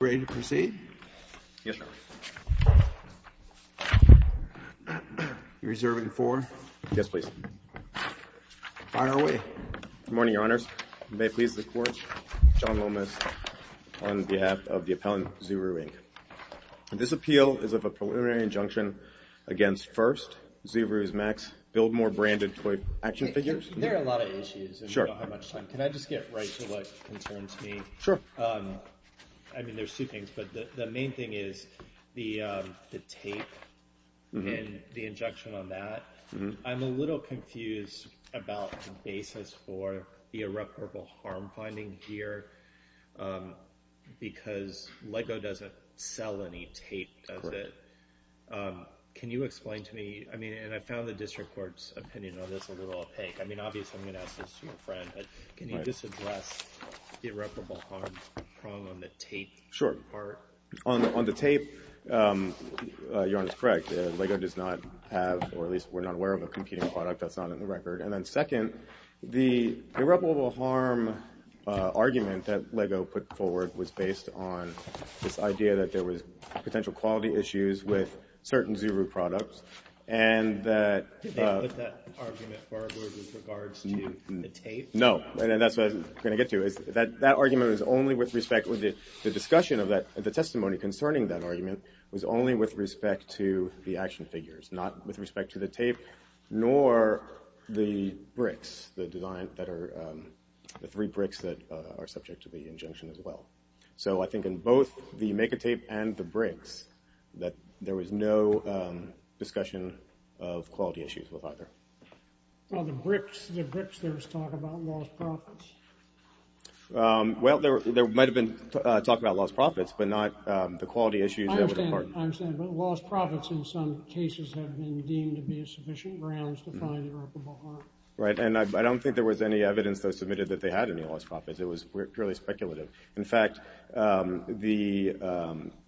Ready to proceed? Yes, Your Honor. Are you reserving four? Yes, please. Fine. Are we? Good morning, Your Honors. May it please the Court, John Lomas on behalf of the appellant, ZURU Inc. This appeal is of a preliminary injunction against First, ZURU's Max, Buildmore branded toy action figures. There are a lot of issues. Sure. I don't have much time. Can I just get right to what concerns me? Sure. I mean, there's two things, but the main thing is the tape and the injection on that. I'm a little confused about the basis for the irreparable harm finding here because LEGO doesn't sell any tape, does it? Can you explain to me? I mean, and I found the district court's opinion on this a little opaque. I mean, obviously, I'm going to ask this to your friend, but can you just address the problem on the tape part? Sure. On the tape, Your Honor is correct. LEGO does not have, or at least we're not aware of, a competing product. That's not on the record. And then second, the irreparable harm argument that LEGO put forward was based on this idea that there was potential quality issues with certain ZURU products and that Did they put that argument forward with regards to the tape? No. And that's what I'm going to get to. That argument was only with respect with the discussion of that, the testimony concerning that argument was only with respect to the action figures, not with respect to the tape nor the bricks, the design that are the three bricks that are subject to the injunction as well. So I think in both the MEGA tape and the bricks that there was no discussion of quality issues with either. Well, the bricks, there was talk about lost profits. Well, there might have been talk about lost profits, but not the quality issues. I understand. But lost profits in some cases have been deemed to be a sufficient grounds to find irreparable harm. Right. And I don't think there was any evidence that was submitted that they had any lost profits. It was purely speculative. In fact, the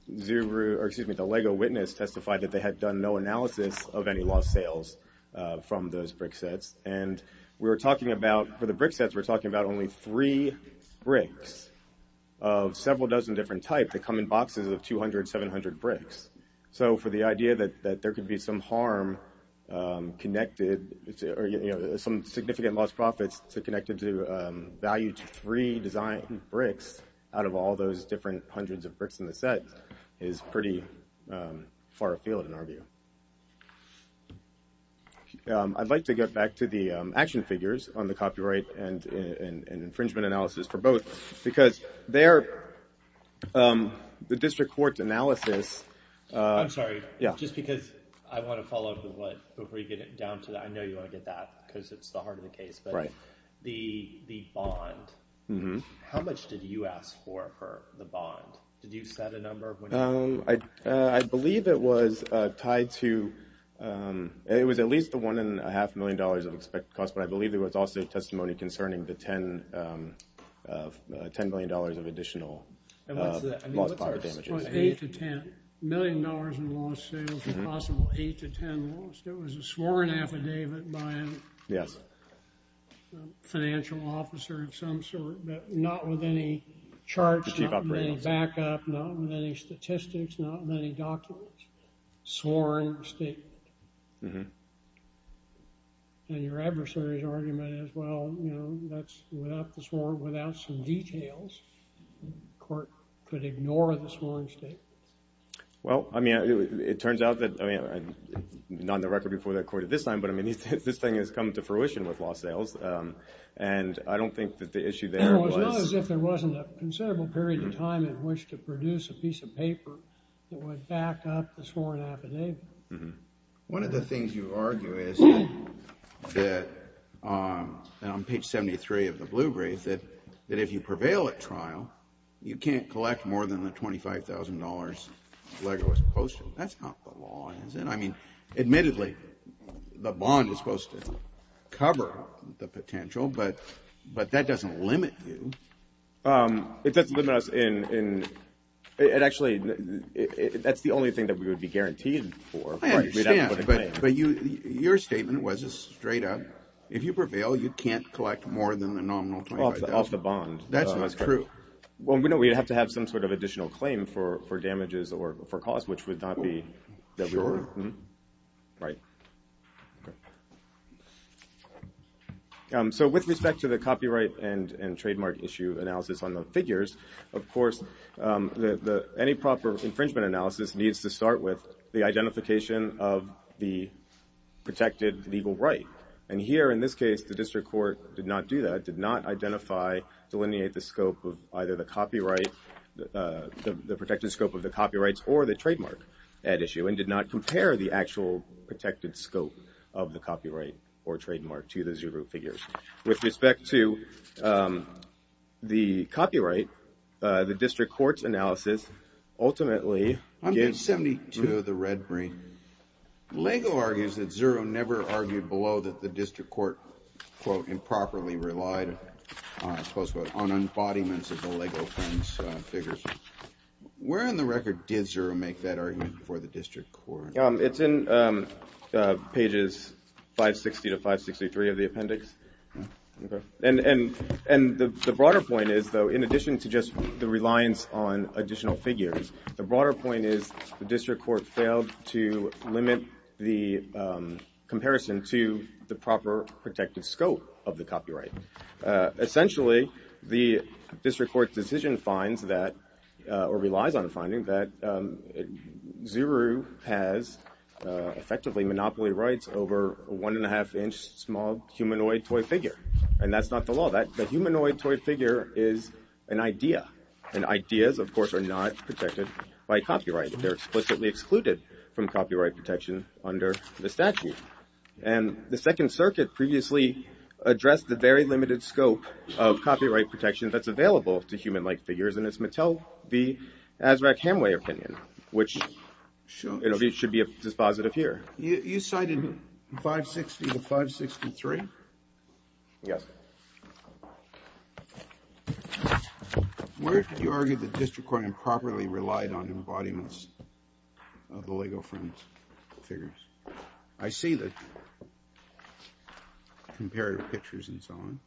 LEGO witness testified that they had done no analysis of any lost sales from those brick sets. And we were talking about, for the brick sets, we're talking about only three bricks of several dozen different types that come in boxes of 200, 700 bricks. So for the idea that there could be some harm connected or some significant lost profits connected to value to three design bricks out of all those different hundreds of bricks in the set is pretty far afield in our view. I'd like to get back to the action figures on the copyright and infringement analysis for both. Because there, the district court analysis... I'm sorry. Yeah. Just because I want to follow up with what, before you get down to that. I know you want to get that because it's the heart of the case. Right. The bond. Mm-hmm. How much did you ask for the bond? Did you set a number? I believe it was tied to, it was at least the one and a half million dollars of expected cost. But I believe there was also testimony concerning the 10 million dollars of additional lost profit damages. What's our estimate? Eight to 10 million dollars in lost sales, possible eight to 10 lost. It was a sworn affidavit by a... Yes. Financial officer of some sort, but not with any charge, not with any backup, not with any statistics, not many documents. Sworn statement. Mm-hmm. And your adversary's argument is, well, you know, that's without the sworn, without some details, the court could ignore the sworn statement. Well, I mean, it turns out that, I mean, not on the record before the court at this time, but I mean, this thing has come to fruition with lost sales. And I don't think that the issue there was... I don't think there was a piece of paper that would back up the sworn affidavit. Mm-hmm. One of the things you argue is that, on page 73 of the blue brief, that if you prevail at trial, you can't collect more than the 25,000 dollars Legolas posted. That's not what law ends in. I mean, admittedly, the bond is supposed to cover the potential, but that doesn't limit you. It doesn't limit us in... Actually, that's the only thing that we would be guaranteed for. I understand, but your statement was just straight up, if you prevail, you can't collect more than the nominal 25,000. Off the bond. That's not true. Well, we'd have to have some sort of additional claim for damages or for costs, which would not be... Sure. Right. Okay. So, with respect to the copyright and trademark issue analysis on the figures, of course, any proper infringement analysis needs to start with the identification of the protected legal right. And here, in this case, the district court did not do that, did not identify, delineate the scope of either the copyright... The protected scope of the copyrights or the trademark at issue, and did not compare the actual protected scope of the copyright or trademark to the Zuru figures. With respect to the copyright, the district court's analysis ultimately... 172, the red ring. LEGO argues that Zuru never argued below that the district court, quote, improperly relied, close quote, on embodiments of the LEGO funds figures. Where on the record did Zuru make that argument before the district court? It's in pages 560 to 563 of the appendix. And the broader point is, though, in addition to just the reliance on additional figures, the broader point is the district court failed to limit the comparison to the proper protected scope of the copyright. Essentially, the district court's decision finds that, or relies on finding, that Zuru has effectively monopoly rights over a one and a half inch small humanoid toy figure. And that's not the law. That humanoid toy figure is an idea. And ideas, of course, are not protected by copyright. They're explicitly excluded from copyright protection under the statute. And the Second Circuit previously addressed the very limited scope of copyright protection that's available to human-like figures, and it's Mattel v. Azraq Hemway opinion, which should be a dispositive here. You cited 560 to 563? Yes. Where did you argue the district court improperly relied on embodiments of the LEGO fund figures? I see the comparative pictures and so on.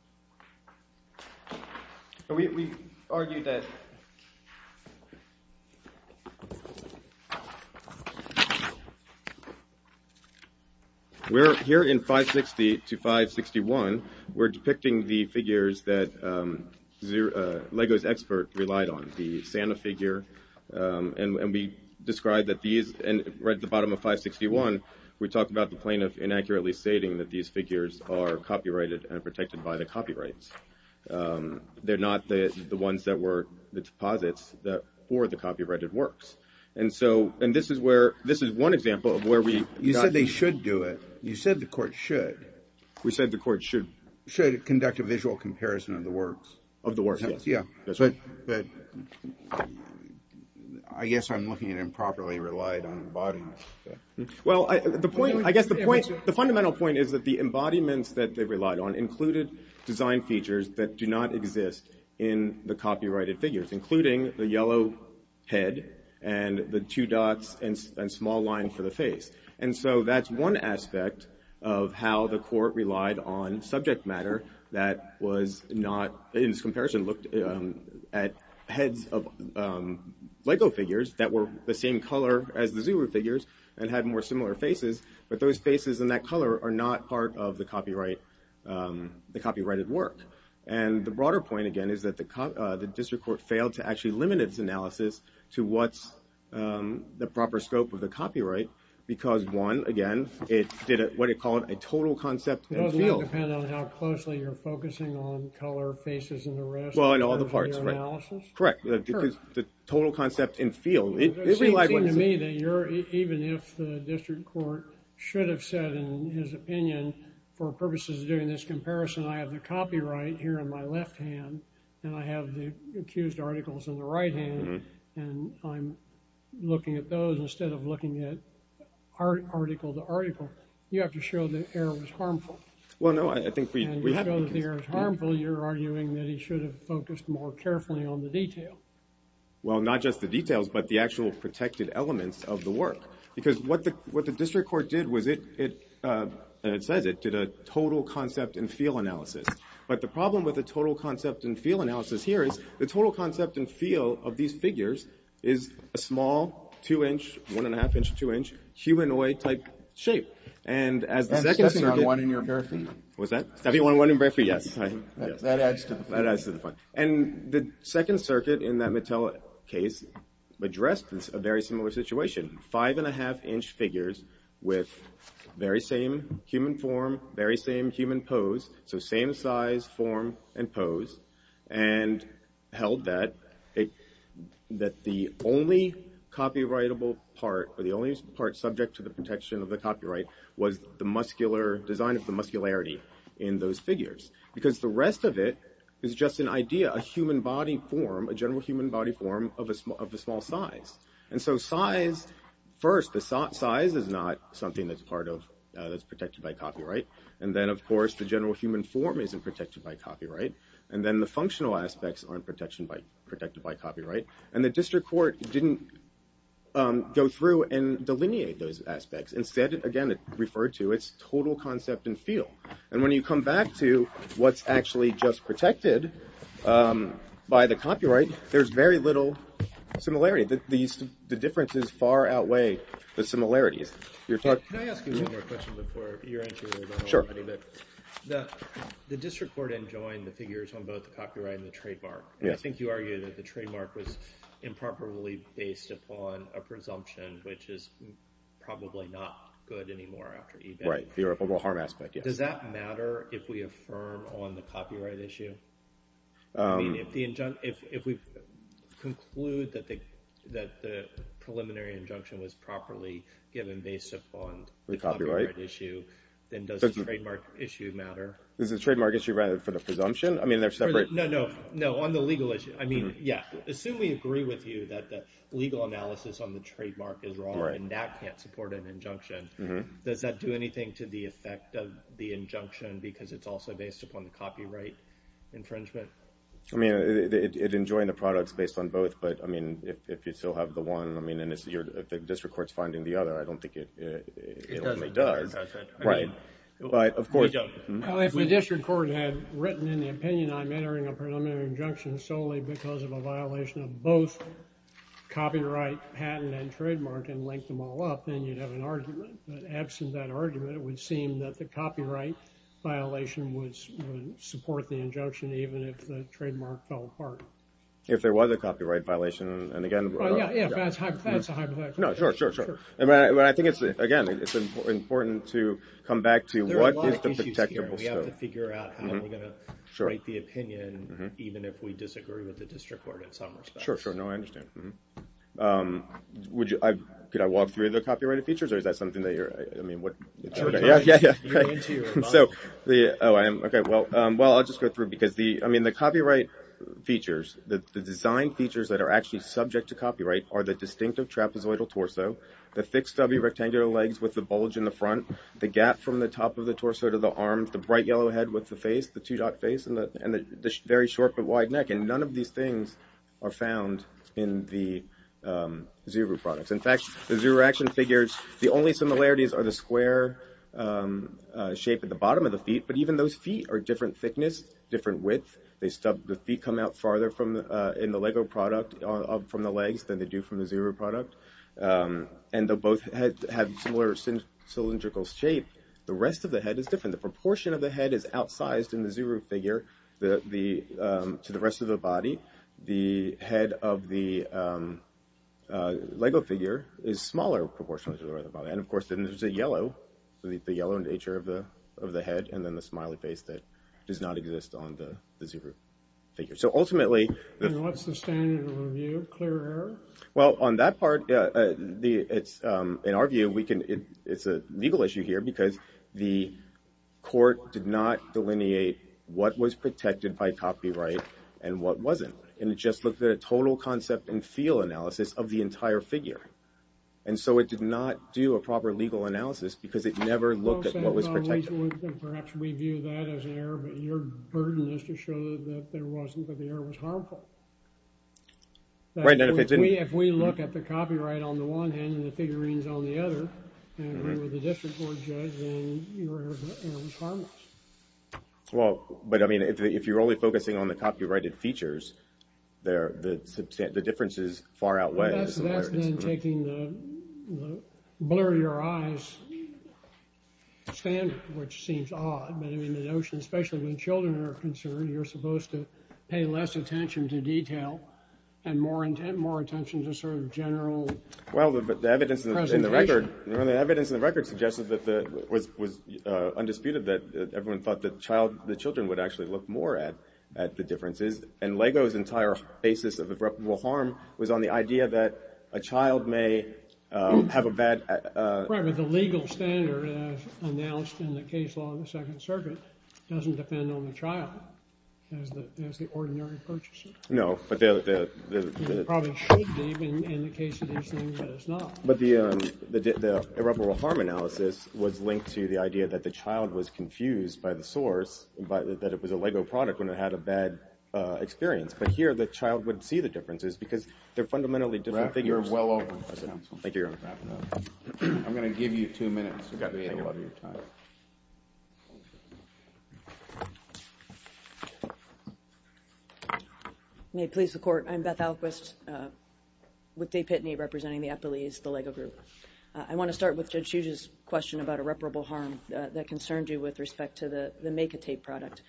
We argued that... Here in 560 to 561, we're depicting the figures that LEGO's expert relied on, the Santa figure, and we described that these... Right at the bottom of 561, we talked about the plaintiff inaccurately stating that these figures are copyrighted and protected by the copyrights. They're not the ones that were the deposits for the copyrighted works. And this is one example of where we... You said they should do it. You said the court should. We said the court should. Should conduct a visual comparison of the works. Of the works, yes. That's right. I guess I'm looking at improperly relied on embodiments. Well, I guess the fundamental point is that the embodiments that they relied on included design features that do not exist in the copyrighted figures, including the yellow head and the two dots and small line for the face. And so that's one aspect of how the court relied on subject matter that was not, in this comparison, looked at heads of LEGO figures that were the same color as the Zuru figures and had more similar faces, but those faces and that color are not part of the copyrighted work. And the broader point, again, is that the district court failed to actually limit its analysis to what's the proper scope of the copyright because, one, again, it did what they call a total concept and field. Does that depend on how closely you're focusing on color, faces, and the rest of your analysis? Well, in all the parts, right. Correct. Because the total concept and field, it relied on... It seems to me that you're, even if the district court should have said, in his opinion, for purposes of doing this comparison, I have the copyright here in my left hand and I have the accused articles in the right hand and I'm looking at those instead of looking at article to article. You have to show the error was harmful. Well, no, I think we... And you show that the error is harmful, you're arguing that he should have focused more carefully on the detail. Well, not just the details, but the actual protected elements of the work. Because what the district court did was it, and it says it, did a total concept and field analysis. But the problem with the total concept and field analysis here is the total concept and field of these figures is a small 2-inch, 1.5-inch, 2-inch humanoid-type shape. And as the second circuit... Stepping on one in your bare feet. What's that? Stepping on one in your bare feet, yes. That adds to the fun. That adds to the fun. And the second circuit in that Mattel case addressed a very similar situation. Five-and-a-half-inch figures with very same human form, very same human pose, so same size, form, and pose, and held that the only copyrightable part, or the only part subject to the protection of the copyright was the design of the muscularity in those figures. Because the rest of it is just an idea, a human body form, a general human body form of a small size. And so size, first, the size is not something that's protected by copyright. And then, of course, the general human form isn't protected by copyright. And then the functional aspects aren't protected by copyright. And the district court didn't go through and delineate those aspects. Instead, again, it referred to its total concept and feel. And when you come back to what's actually just protected by the copyright, there's very little similarity. The differences far outweigh the similarities. Can I ask you one more question before your answer is already? Sure. The district court enjoined the figures on both the copyright and the trademark. And I think you argued that the trademark was improperly based upon a presumption, which is probably not good anymore after eBay. Right, the irreparable harm aspect, yes. Does that matter if we affirm on the copyright issue? I mean, if we conclude that the preliminary injunction was properly given based upon the copyright issue, then does the trademark issue matter? Does the trademark issue matter for the presumption? I mean, they're separate. No, no, no. On the legal issue. I mean, yeah. Assume we agree with you that the legal analysis on the trademark is wrong and that can't support an injunction. Does that do anything to the effect of the injunction because it's also based upon the copyright infringement? I mean, it enjoined the products based on both. But, I mean, if you still have the one, I mean, and if the district court's finding the other, I don't think it ultimately does. It doesn't. Right. But, of course. Well, if the district court had written in the opinion I'm entering a preliminary injunction solely because of a violation of both copyright, patent, and trademark, and linked them all up, then you'd have an argument. But, absent that argument, it would seem that the copyright violation would support the injunction even if the trademark fell apart. If there was a copyright violation. And, again. Yeah, that's a hypothetical. No, sure, sure, sure. I mean, I think it's, again, it's important to come back to there are a lot of issues here. We have to figure out how we're going to write the opinion even if we disagree with the district court in some respects. Sure, sure. No, I understand. Would you, could I walk through the copyrighted features or is that something that you're, I mean, what? Sure. Yeah, yeah, yeah. So, the, oh, I am, okay. Well, I'll just go through because the, I mean, the copyright features, the design features that are actually subject to copyright are the distinctive trapezoidal torso, the fixed W rectangular legs with the bulge in the front, the gap from the top of the torso to the arms, the bright yellow head with the face, the two-dot face, and the very short but wide neck. And none of these things are found in the Zuru products. In fact, the Zuru Action figures, the only similarities are the square shape at the bottom of the feet. But even those feet are different thickness, different width. They stub, the feet come out farther from, in the Lego product from the legs than they do from the Zuru product. And they'll both have similar cylindrical shape. The rest of the head is different. The proportion of the head is outsized in the Zuru figure to the rest of the body. The head of the Lego figure is smaller proportionally to the rest of the body. And, of course, then there's a yellow, the yellow nature of the head and then the smiley face that does not exist on the Zuru figure. So, ultimately... And what's the standard review? Clear error? Well, on that part, it's, in our view, it's a legal issue here because the court did not delineate what was protected by copyright and what wasn't. And it just looked at a total concept and feel analysis of the entire figure. And so it did not do a proper legal analysis because it never looked at what was protected. Perhaps we view that as an error, but your burden is to show that there wasn't, that the error was harmful. Right. If we look at the copyright on the one hand and the figurines on the other and we were the district court judge, then the error was harmless. Well, but, I mean, if you're only focusing on the copyrighted features, the differences far outweigh the similarities. That's then taking the blur of your eyes standard, which seems odd. But, I mean, the notion, especially when children are concerned, you're supposed to pay less attention to detail and more attention to sort of general presentation. Well, the evidence in the record suggests that it was undisputed that everyone thought that the children would actually look more at the differences. And LEGO's entire basis of irreparable harm was on the idea that a child may have a bad... Right, but the legal standard announced in the case law of the Second Circuit doesn't depend on the child as the ordinary purchaser. No, but the... It probably should be in the case of this thing, but it's not. But the irreparable harm analysis was linked to the idea that the child was confused by the source, that it was a LEGO product when it had a bad experience. But here, the child would see the differences because they're fundamentally different figures. You're well over, counsel. Thank you, Your Honor. I'm going to give you two minutes. You've got to take a lot of your time. May it please the Court, I'm Beth Alquist with Dave Pitney, representing the Appellees, the LEGO Group. I want to start with Judge Hughes' question about irreparable harm that concerned you with respect to the Makitape product.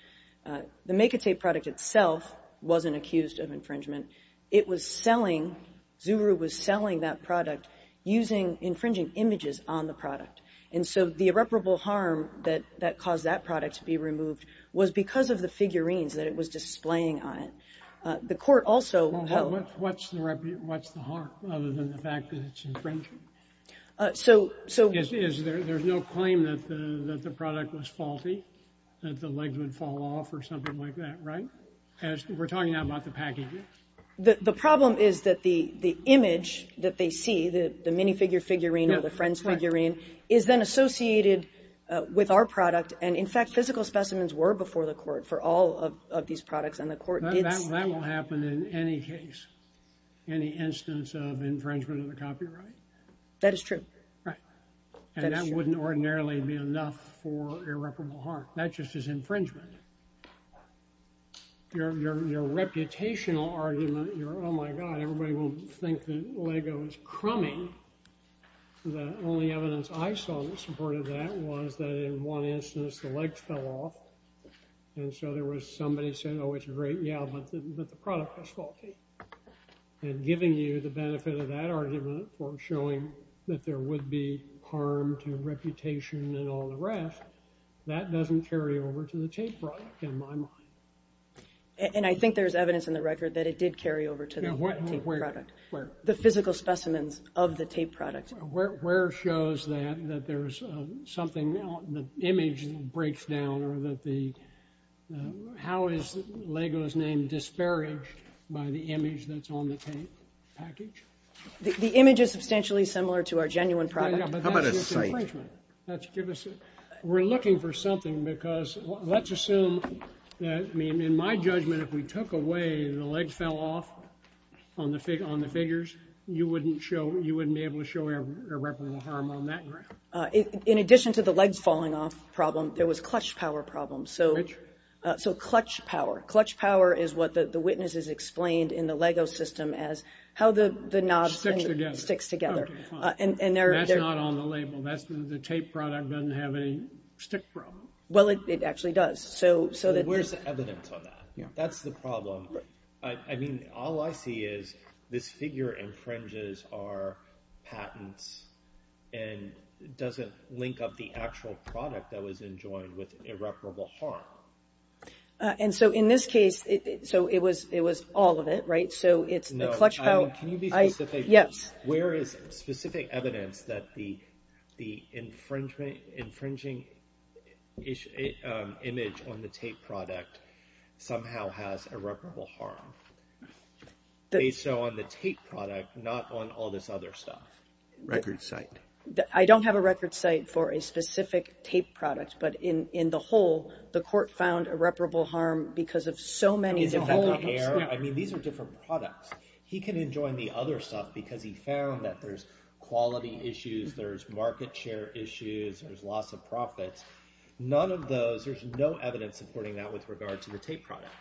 The Makitape product itself wasn't accused of infringement. It was selling... Zuru was selling that product using infringing images on the product. And so the irreparable harm that caused that product to be removed was because of the figurines that it was displaying on it. The Court also held... What's the harm other than the fact that it's infringing? So... There's no claim that the product was faulty, that the legs would fall off or something like that, right? We're talking now about the packages. The problem is that the image that they see, the minifigure figurine or the friend's figurine is then associated with our product and, in fact, physical specimens were before the Court for all of these products and the Court did... That will happen in any case, any instance of infringement of the copyright. That is true. And that wouldn't ordinarily be enough for irreparable harm. That just is infringement. Your reputational argument, your, oh my God, everybody will think that LEGO is crummy. The only evidence I saw that supported that was that in one instance the legs fell off and so there was somebody saying, oh, it's great, yeah, but the product was faulty. And giving you the benefit of that argument for showing that there would be harm to reputation and all the rest, that doesn't carry over to the tape product, in my mind. And I think there's evidence in the record that it did carry over to the tape product. The physical specimens of the tape product. Where shows that there's something, the image breaks down, or that the, how is LEGO's name disparaged by the image that's on the tape package? The image is substantially similar to our genuine product. How about a sight? We're looking for something because, let's assume that, in my judgment, if we took away the legs fell off on the figures, you wouldn't be able to show irreparable harm on that ground. In addition to the legs falling off problem, there was clutch power problems. So, clutch power. Clutch power is what the witnesses explained in the LEGO system as how the knobs sticks together. That's not on the label. The tape product doesn't have any stick problem. Well, it actually does. Where's the evidence on that? That's the problem. All I see is this figure infringes our patents and doesn't link up the actual product that was enjoined with irreparable harm. In this case, it was all of it, right? Can you be specific? Where is specific evidence that the infringing image on the tape product somehow has irreparable harm? Based on the tape product, not on all this other stuff. Record site. I don't have a record site for a specific tape product, but in the whole, the court found irreparable harm because of so many different problems. He can enjoin the other stuff because he found that there's quality issues, there's market share issues, there's loss of profits. None of those, there's no evidence supporting that with regard to the tape product.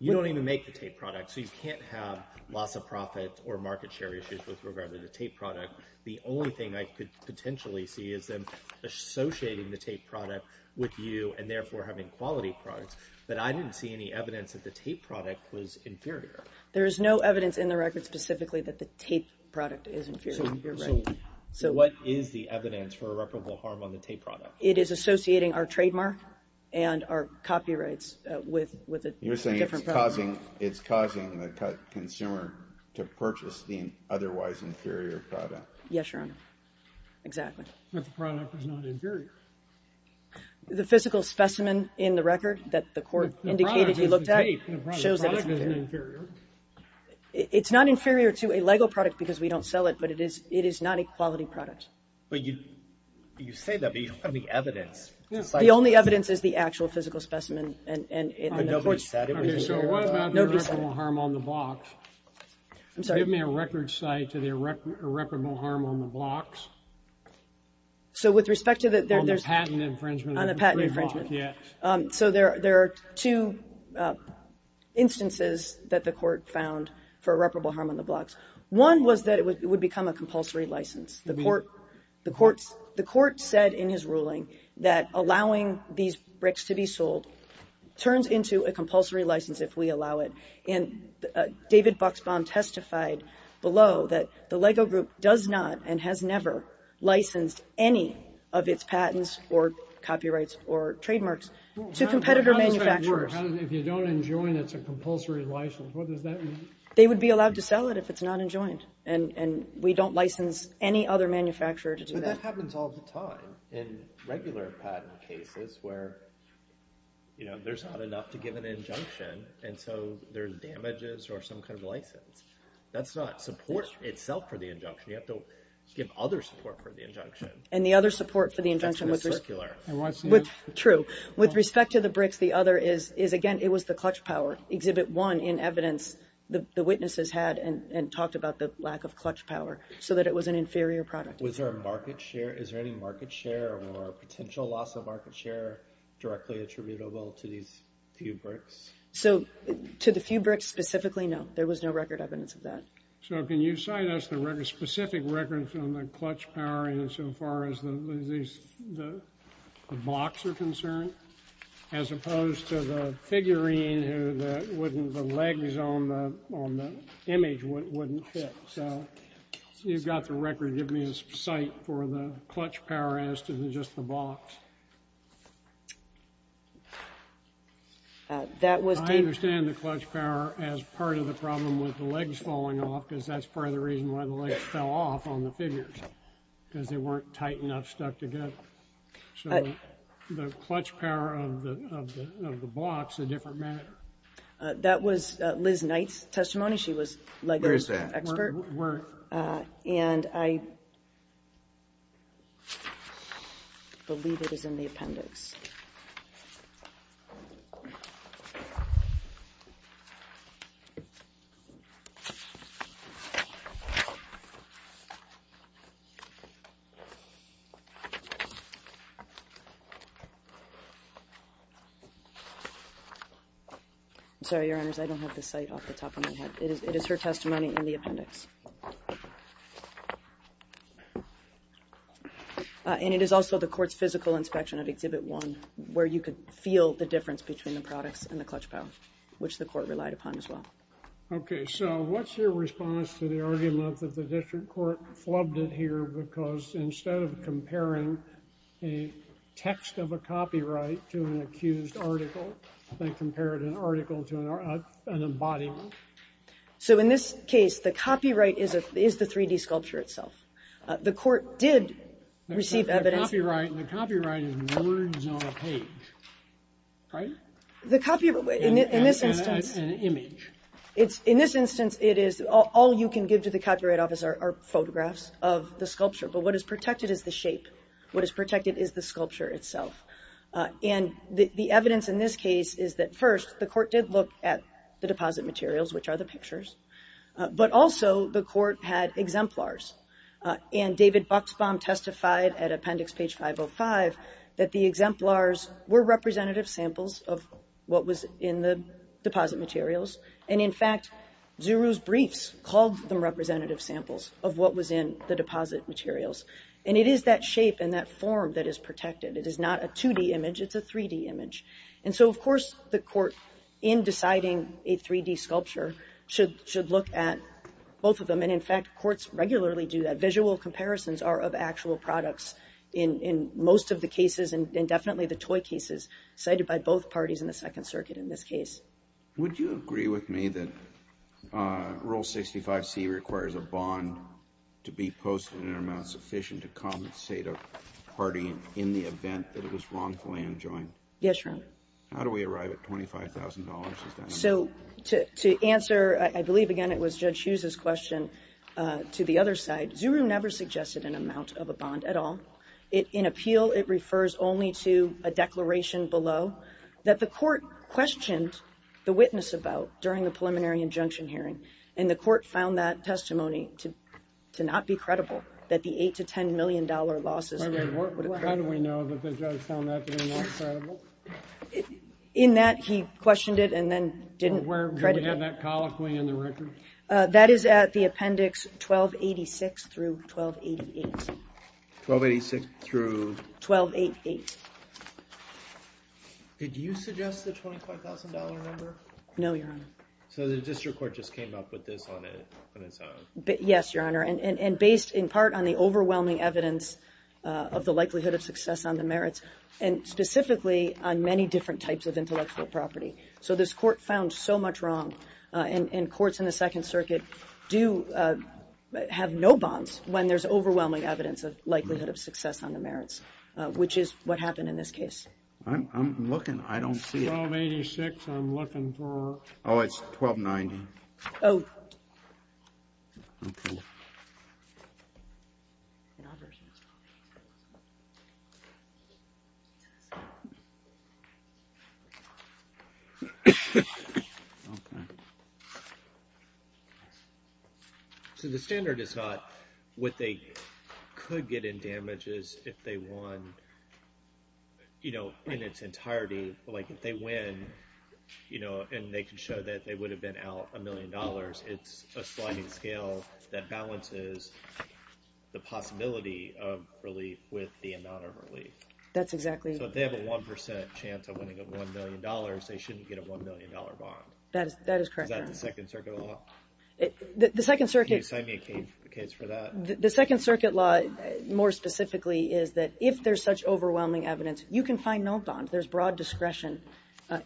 You don't even make the tape product, so you can't have loss of profit or market share issues with regard to the tape product. The only thing I could potentially see is them associating the tape product with you and therefore having quality products, but I didn't see any evidence that the tape product was inferior. There is no evidence in the record specifically that the tape product is inferior. So what is the evidence for irreparable harm on the tape product? It is associating our trademark and our copyrights with a different product. It's causing the consumer to purchase the otherwise inferior product. Yes, Your Honor. Exactly. But the product is not inferior. The physical specimen in the record that the court indicated he looked at shows that it's inferior. It's not inferior to a Lego product because we don't sell it, but it is not a quality product. You say that, but you don't have any evidence. The only evidence is the actual physical specimen. Nobody said it was inferior. So what about the irreparable harm on the blocks? Give me a record site to the irreparable harm on the blocks. to the patent infringement on the block. There are two instances that the court found for irreparable harm on the blocks. One was that it would become a compulsory license. The court said in his ruling that allowing these bricks to be sold turns into a compulsory license if we allow it. David Buxbaum testified below that the Lego Group does not and has never licensed any of its patents or copyrights or trademarks to competitor manufacturers. How does that work? If you don't enjoin it, it's a compulsory license. What does that mean? They would be allowed to sell it if it's not enjoined. We don't license any other manufacturer to do that. But that happens all the time in regular patent cases where there's not enough to give an injunction and so there's damages or some kind of license. That's not support itself for the injunction. You have to give other support for the injunction. And the other support for the injunction with respect to the bricks is again, it was the clutch power. Exhibit 1 in evidence the witnesses had and talked about the lack of clutch power so that it was an inferior product. Is there any market share or potential loss of market share directly attributable to these few bricks? To the few bricks specifically, no. There was no record evidence of that. Can you cite us specific records on the clutch power insofar as the blocks are concerned as opposed to the figurine the legs on the image wouldn't fit. So you've got the record give me a cite for the clutch power as to just the blocks. I understand the clutch power as part of the problem with the legs falling off because that's part of the reason why the legs fell off on the figures because they weren't tight enough stuck together. So the clutch power of the blocks is a different matter. That was Liz Knight's testimony she was Legos expert. And I believe it is in the appendix. I'm sorry your honors, I don't have the cite off the top of my head. It is her testimony in the appendix. And it is also the court's physical inspection of Exhibit 1 where you could feel the difference between the products and the clutch power which the court relied upon as well. Okay, so what's your response to the argument that the district court flubbed it here because instead of comparing the clutch power a text of a copyright to an accused article they compared an article to an embodiment? So in this case the copyright is the 3D sculpture itself. The court did receive evidence. The copyright is words on a page. Right? In this instance In this instance all you can give to the copyright office are photographs of the sculpture but what is protected is the shape what is protected is the sculpture itself. And the evidence in this case is that first the court did look at the deposit materials which are the pictures, but also the court had exemplars and David Buxbaum testified at appendix page 505 that the exemplars were representative samples of what was in the deposit materials and in fact Zuru's briefs called them representative samples of what was in the deposit materials and it is that shape and that form that is protected. It is not a 2D image it's a 3D image. And so of course the court in deciding a 3D sculpture should look at both of them and in fact courts regularly do that visual comparisons are of actual products in most of the cases and definitely the toy cases cited by both parties in the second circuit in this case. Would you agree with me that Rule 65C requires a bond to be posted in an amount sufficient to compensate a party in the event that it was wrongfully enjoined? How do we arrive at $25,000? So to answer, I believe again it was Judge Hughes' question to the other side Zuru never suggested an amount of a bond at all. In appeal it refers only to a declaration below that the court questioned the witness about during the preliminary injunction hearing and the court found that testimony to not be credible that the $8 to $10 million losses How do we know that the judge found that to be not credible? In that he questioned it and then didn't credit it. Do we have that colloquy in the record? That is at the appendix 1286 through 1288. 1286 through? 1288 Did you suggest the $25,000 number? No, Your Honor. So the district court just came up with this on its own? Yes, Your Honor. And based in part on the overwhelming evidence of the likelihood of success on the merits and specifically on many different types of intellectual property so this court found so much wrong and courts in the Second Circuit do have no bonds when there's overwhelming evidence of likelihood of success on the merits which is what happened in this case. I'm looking, I don't see it. 1286, I'm looking for Oh, it's 1290. Oh. Okay. So the standard is not what they could get in damages if they won you know in its entirety like if they win and they can show that they would have been out a million dollars it's a sliding scale that balances the possibility of relief with the amount of relief. That's exactly So if they have a 1% chance of winning a $1,000,000 they shouldn't get a $1,000,000 bond. That is correct, Your Honor. Is that the Second Circuit law? The Second Circuit law more specifically is that if there's such overwhelming evidence you can find no bond. There's broad discretion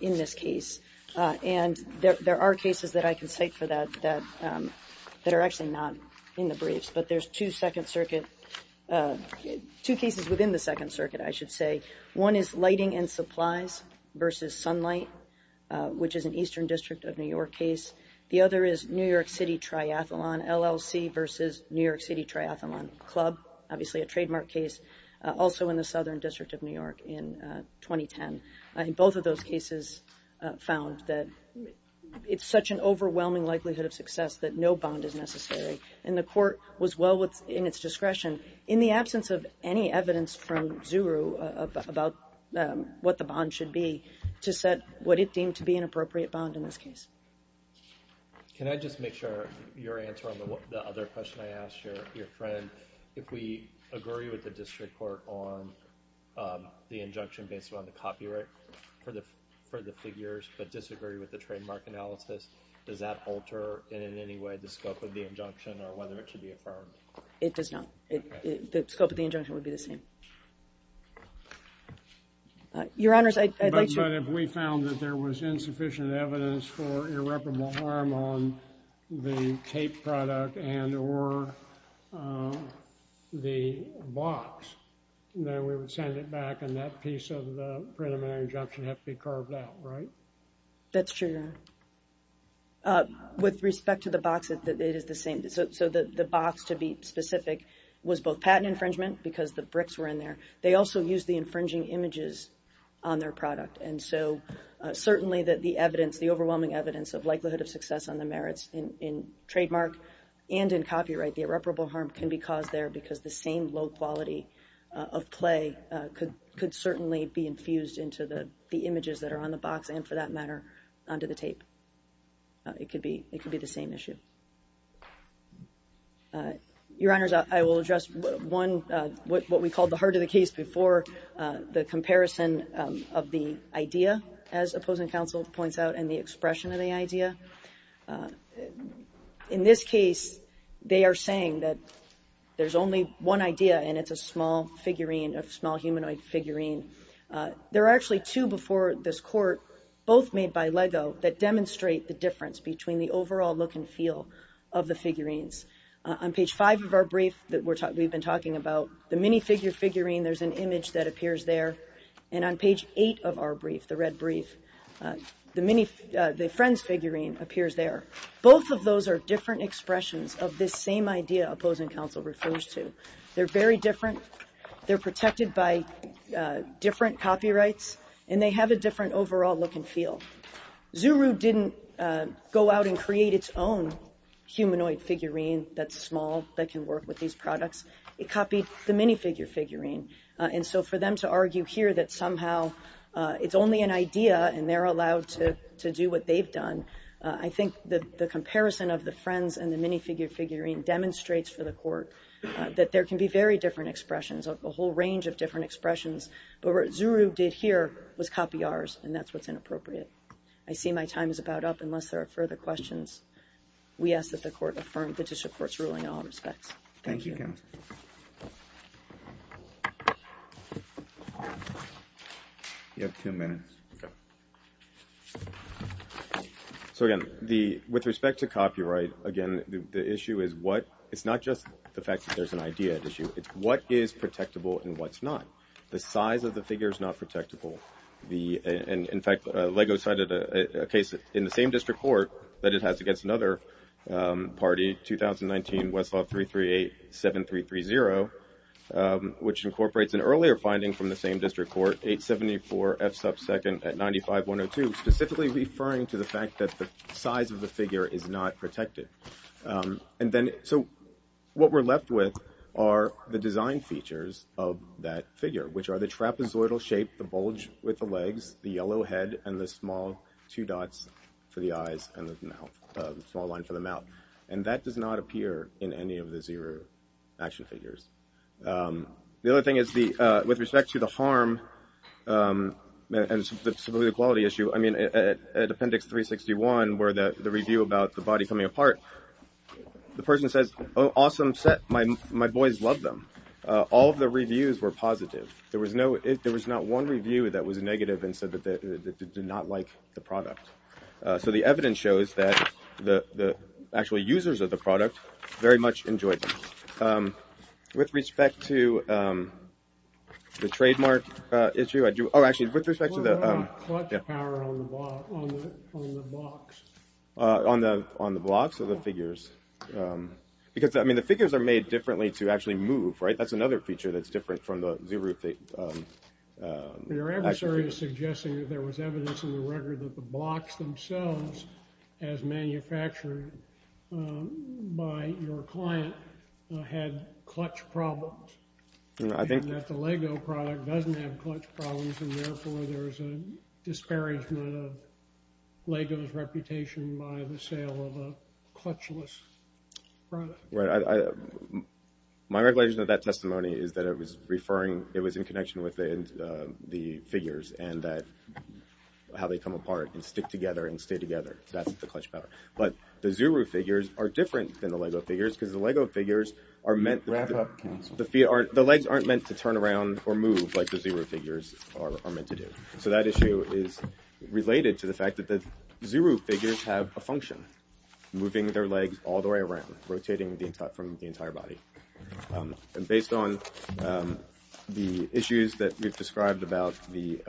in this case and there are cases that I can cite for that that are actually not in the briefs but there's two Second Circuit two cases within the Second Circuit I should say. One is Lighting and Supplies versus Sunlight which is an Eastern District of New York case. The other is New York City Triathlon LLC versus New York City Triathlon Club obviously a trademark case also in the Southern District of New York in 2010. Both of those cases found that it's such an overwhelming likelihood of success that no bond is necessary and the court was well in its discretion in the absence of any evidence from Zuru about what the bond should be to set what it deemed to be an appropriate bond in this case. Can I just make sure your answer on the other question I asked your friend if we agree with the district court on the injunction based on the copyright for the figures but disagree with the trademark analysis, does that alter in any way the scope of the injunction or whether it should be affirmed? It does not. The scope of the injunction would be the same. Your Honors But if we found that there was insufficient evidence for irreparable harm on the for the box then we would send it back and that piece of the preliminary injunction has to be carved out, right? That's true, Your Honor. With respect to the box it is the same so the box to be specific was both patent infringement because the bricks were in there. They also used the infringing images on their product and so certainly that the evidence, the overwhelming evidence of likelihood of success on the merits in trademark and in copyright the irreparable harm can be caused there because the same low quality of play could certainly be infused into the images that are on the box and for that matter onto the tape. It could be the same issue. Your Honors I will address one what we called the heart of the case before the comparison of the idea as opposing counsel points out and the expression of the idea in this case they are saying that there's only one idea and it's a small figurine, a small humanoid figurine. There are actually two before this court both made by Lego that demonstrate the difference between the overall look and feel of the figurines. On page 5 of our brief that we've been talking about the minifigure figurine there's an image that appears there and on page 8 of our brief, the red brief, the friends figurine appears there. Both of those are different expressions of this same idea opposing counsel refers to. They're very different they're protected by different copyrights and they have a different overall look and feel. Zuru didn't go out and create it's own humanoid figurine that's small that can work with these products. It copied the minifigure figurine and so for them to argue here that somehow it's only an idea and they're allowed to do what they've done, I think the comparison of the friends and the minifigure figurine demonstrates for the court that there can be very different expressions a whole range of different expressions but what Zuru did here was copy ours and that's what's inappropriate. I see my time is about up unless there are further questions. We ask that the court affirm the judicial court's ruling in all respects. Thank you. Thank you counsel. You have two minutes. So again with respect to copyright again the issue is what it's not just the fact that there's an idea at issue it's what is protectable and what's not. The size of the figure is not protectable. In fact Lego cited a case in the same district court that it has against another party 2019 Westlaw 3387330 which incorporates an earlier finding from the same district court 874F2 at 95102 specifically referring to the fact that the size of the figure is not protected. So what we're left with are the design features of that figure which are the trapezoidal shape, the bulge with the legs, the yellow head and the small two dots for the eyes and the mouth small line for the mouth and that does not appear in any of the Xero action figures. The other thing is with respect to the harm and the quality issue at appendix 361 where the review about the body coming apart the person says awesome set, my boys love them. All of the reviews were positive. There was not one review that was negative and said that they did not like the product. So the evidence shows that the actual users of the product very much enjoyed them. With respect to the trademark issue with respect to the on the blocks of the figures because the figures are made differently to actually move. That's another feature that's different from the Xero Your adversary is suggesting that there was evidence in the record that the blocks themselves as manufactured by your client had clutch problems and that the Lego product doesn't have clutch problems and therefore there's a disparagement of Lego's reputation by the sale of a clutchless product. Right. My regulation of that testimony is that it was referring, it was in connection with the figures and that how they come apart and stick together and stay together. That's the clutch power. But the Xero figures are different than the Lego figures because the Lego figures are meant the legs aren't meant to turn around or move like the Xero figures are meant to do. So that issue is related to the fact that the Xero figures have a function moving their legs all the way around rotating from the entire body. And based on the issues that we've described about the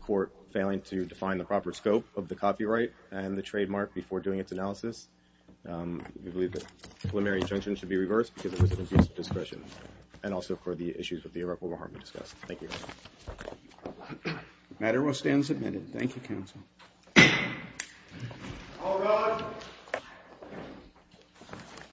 court failing to define the proper scope of the copyright and the trademark before doing its analysis we believe the preliminary injunction should be reversed because it was an abuse of discretion and also for the issues with the irreparable harm we discussed. Thank you. The matter will stand submitted. Thank you counsel. All rise.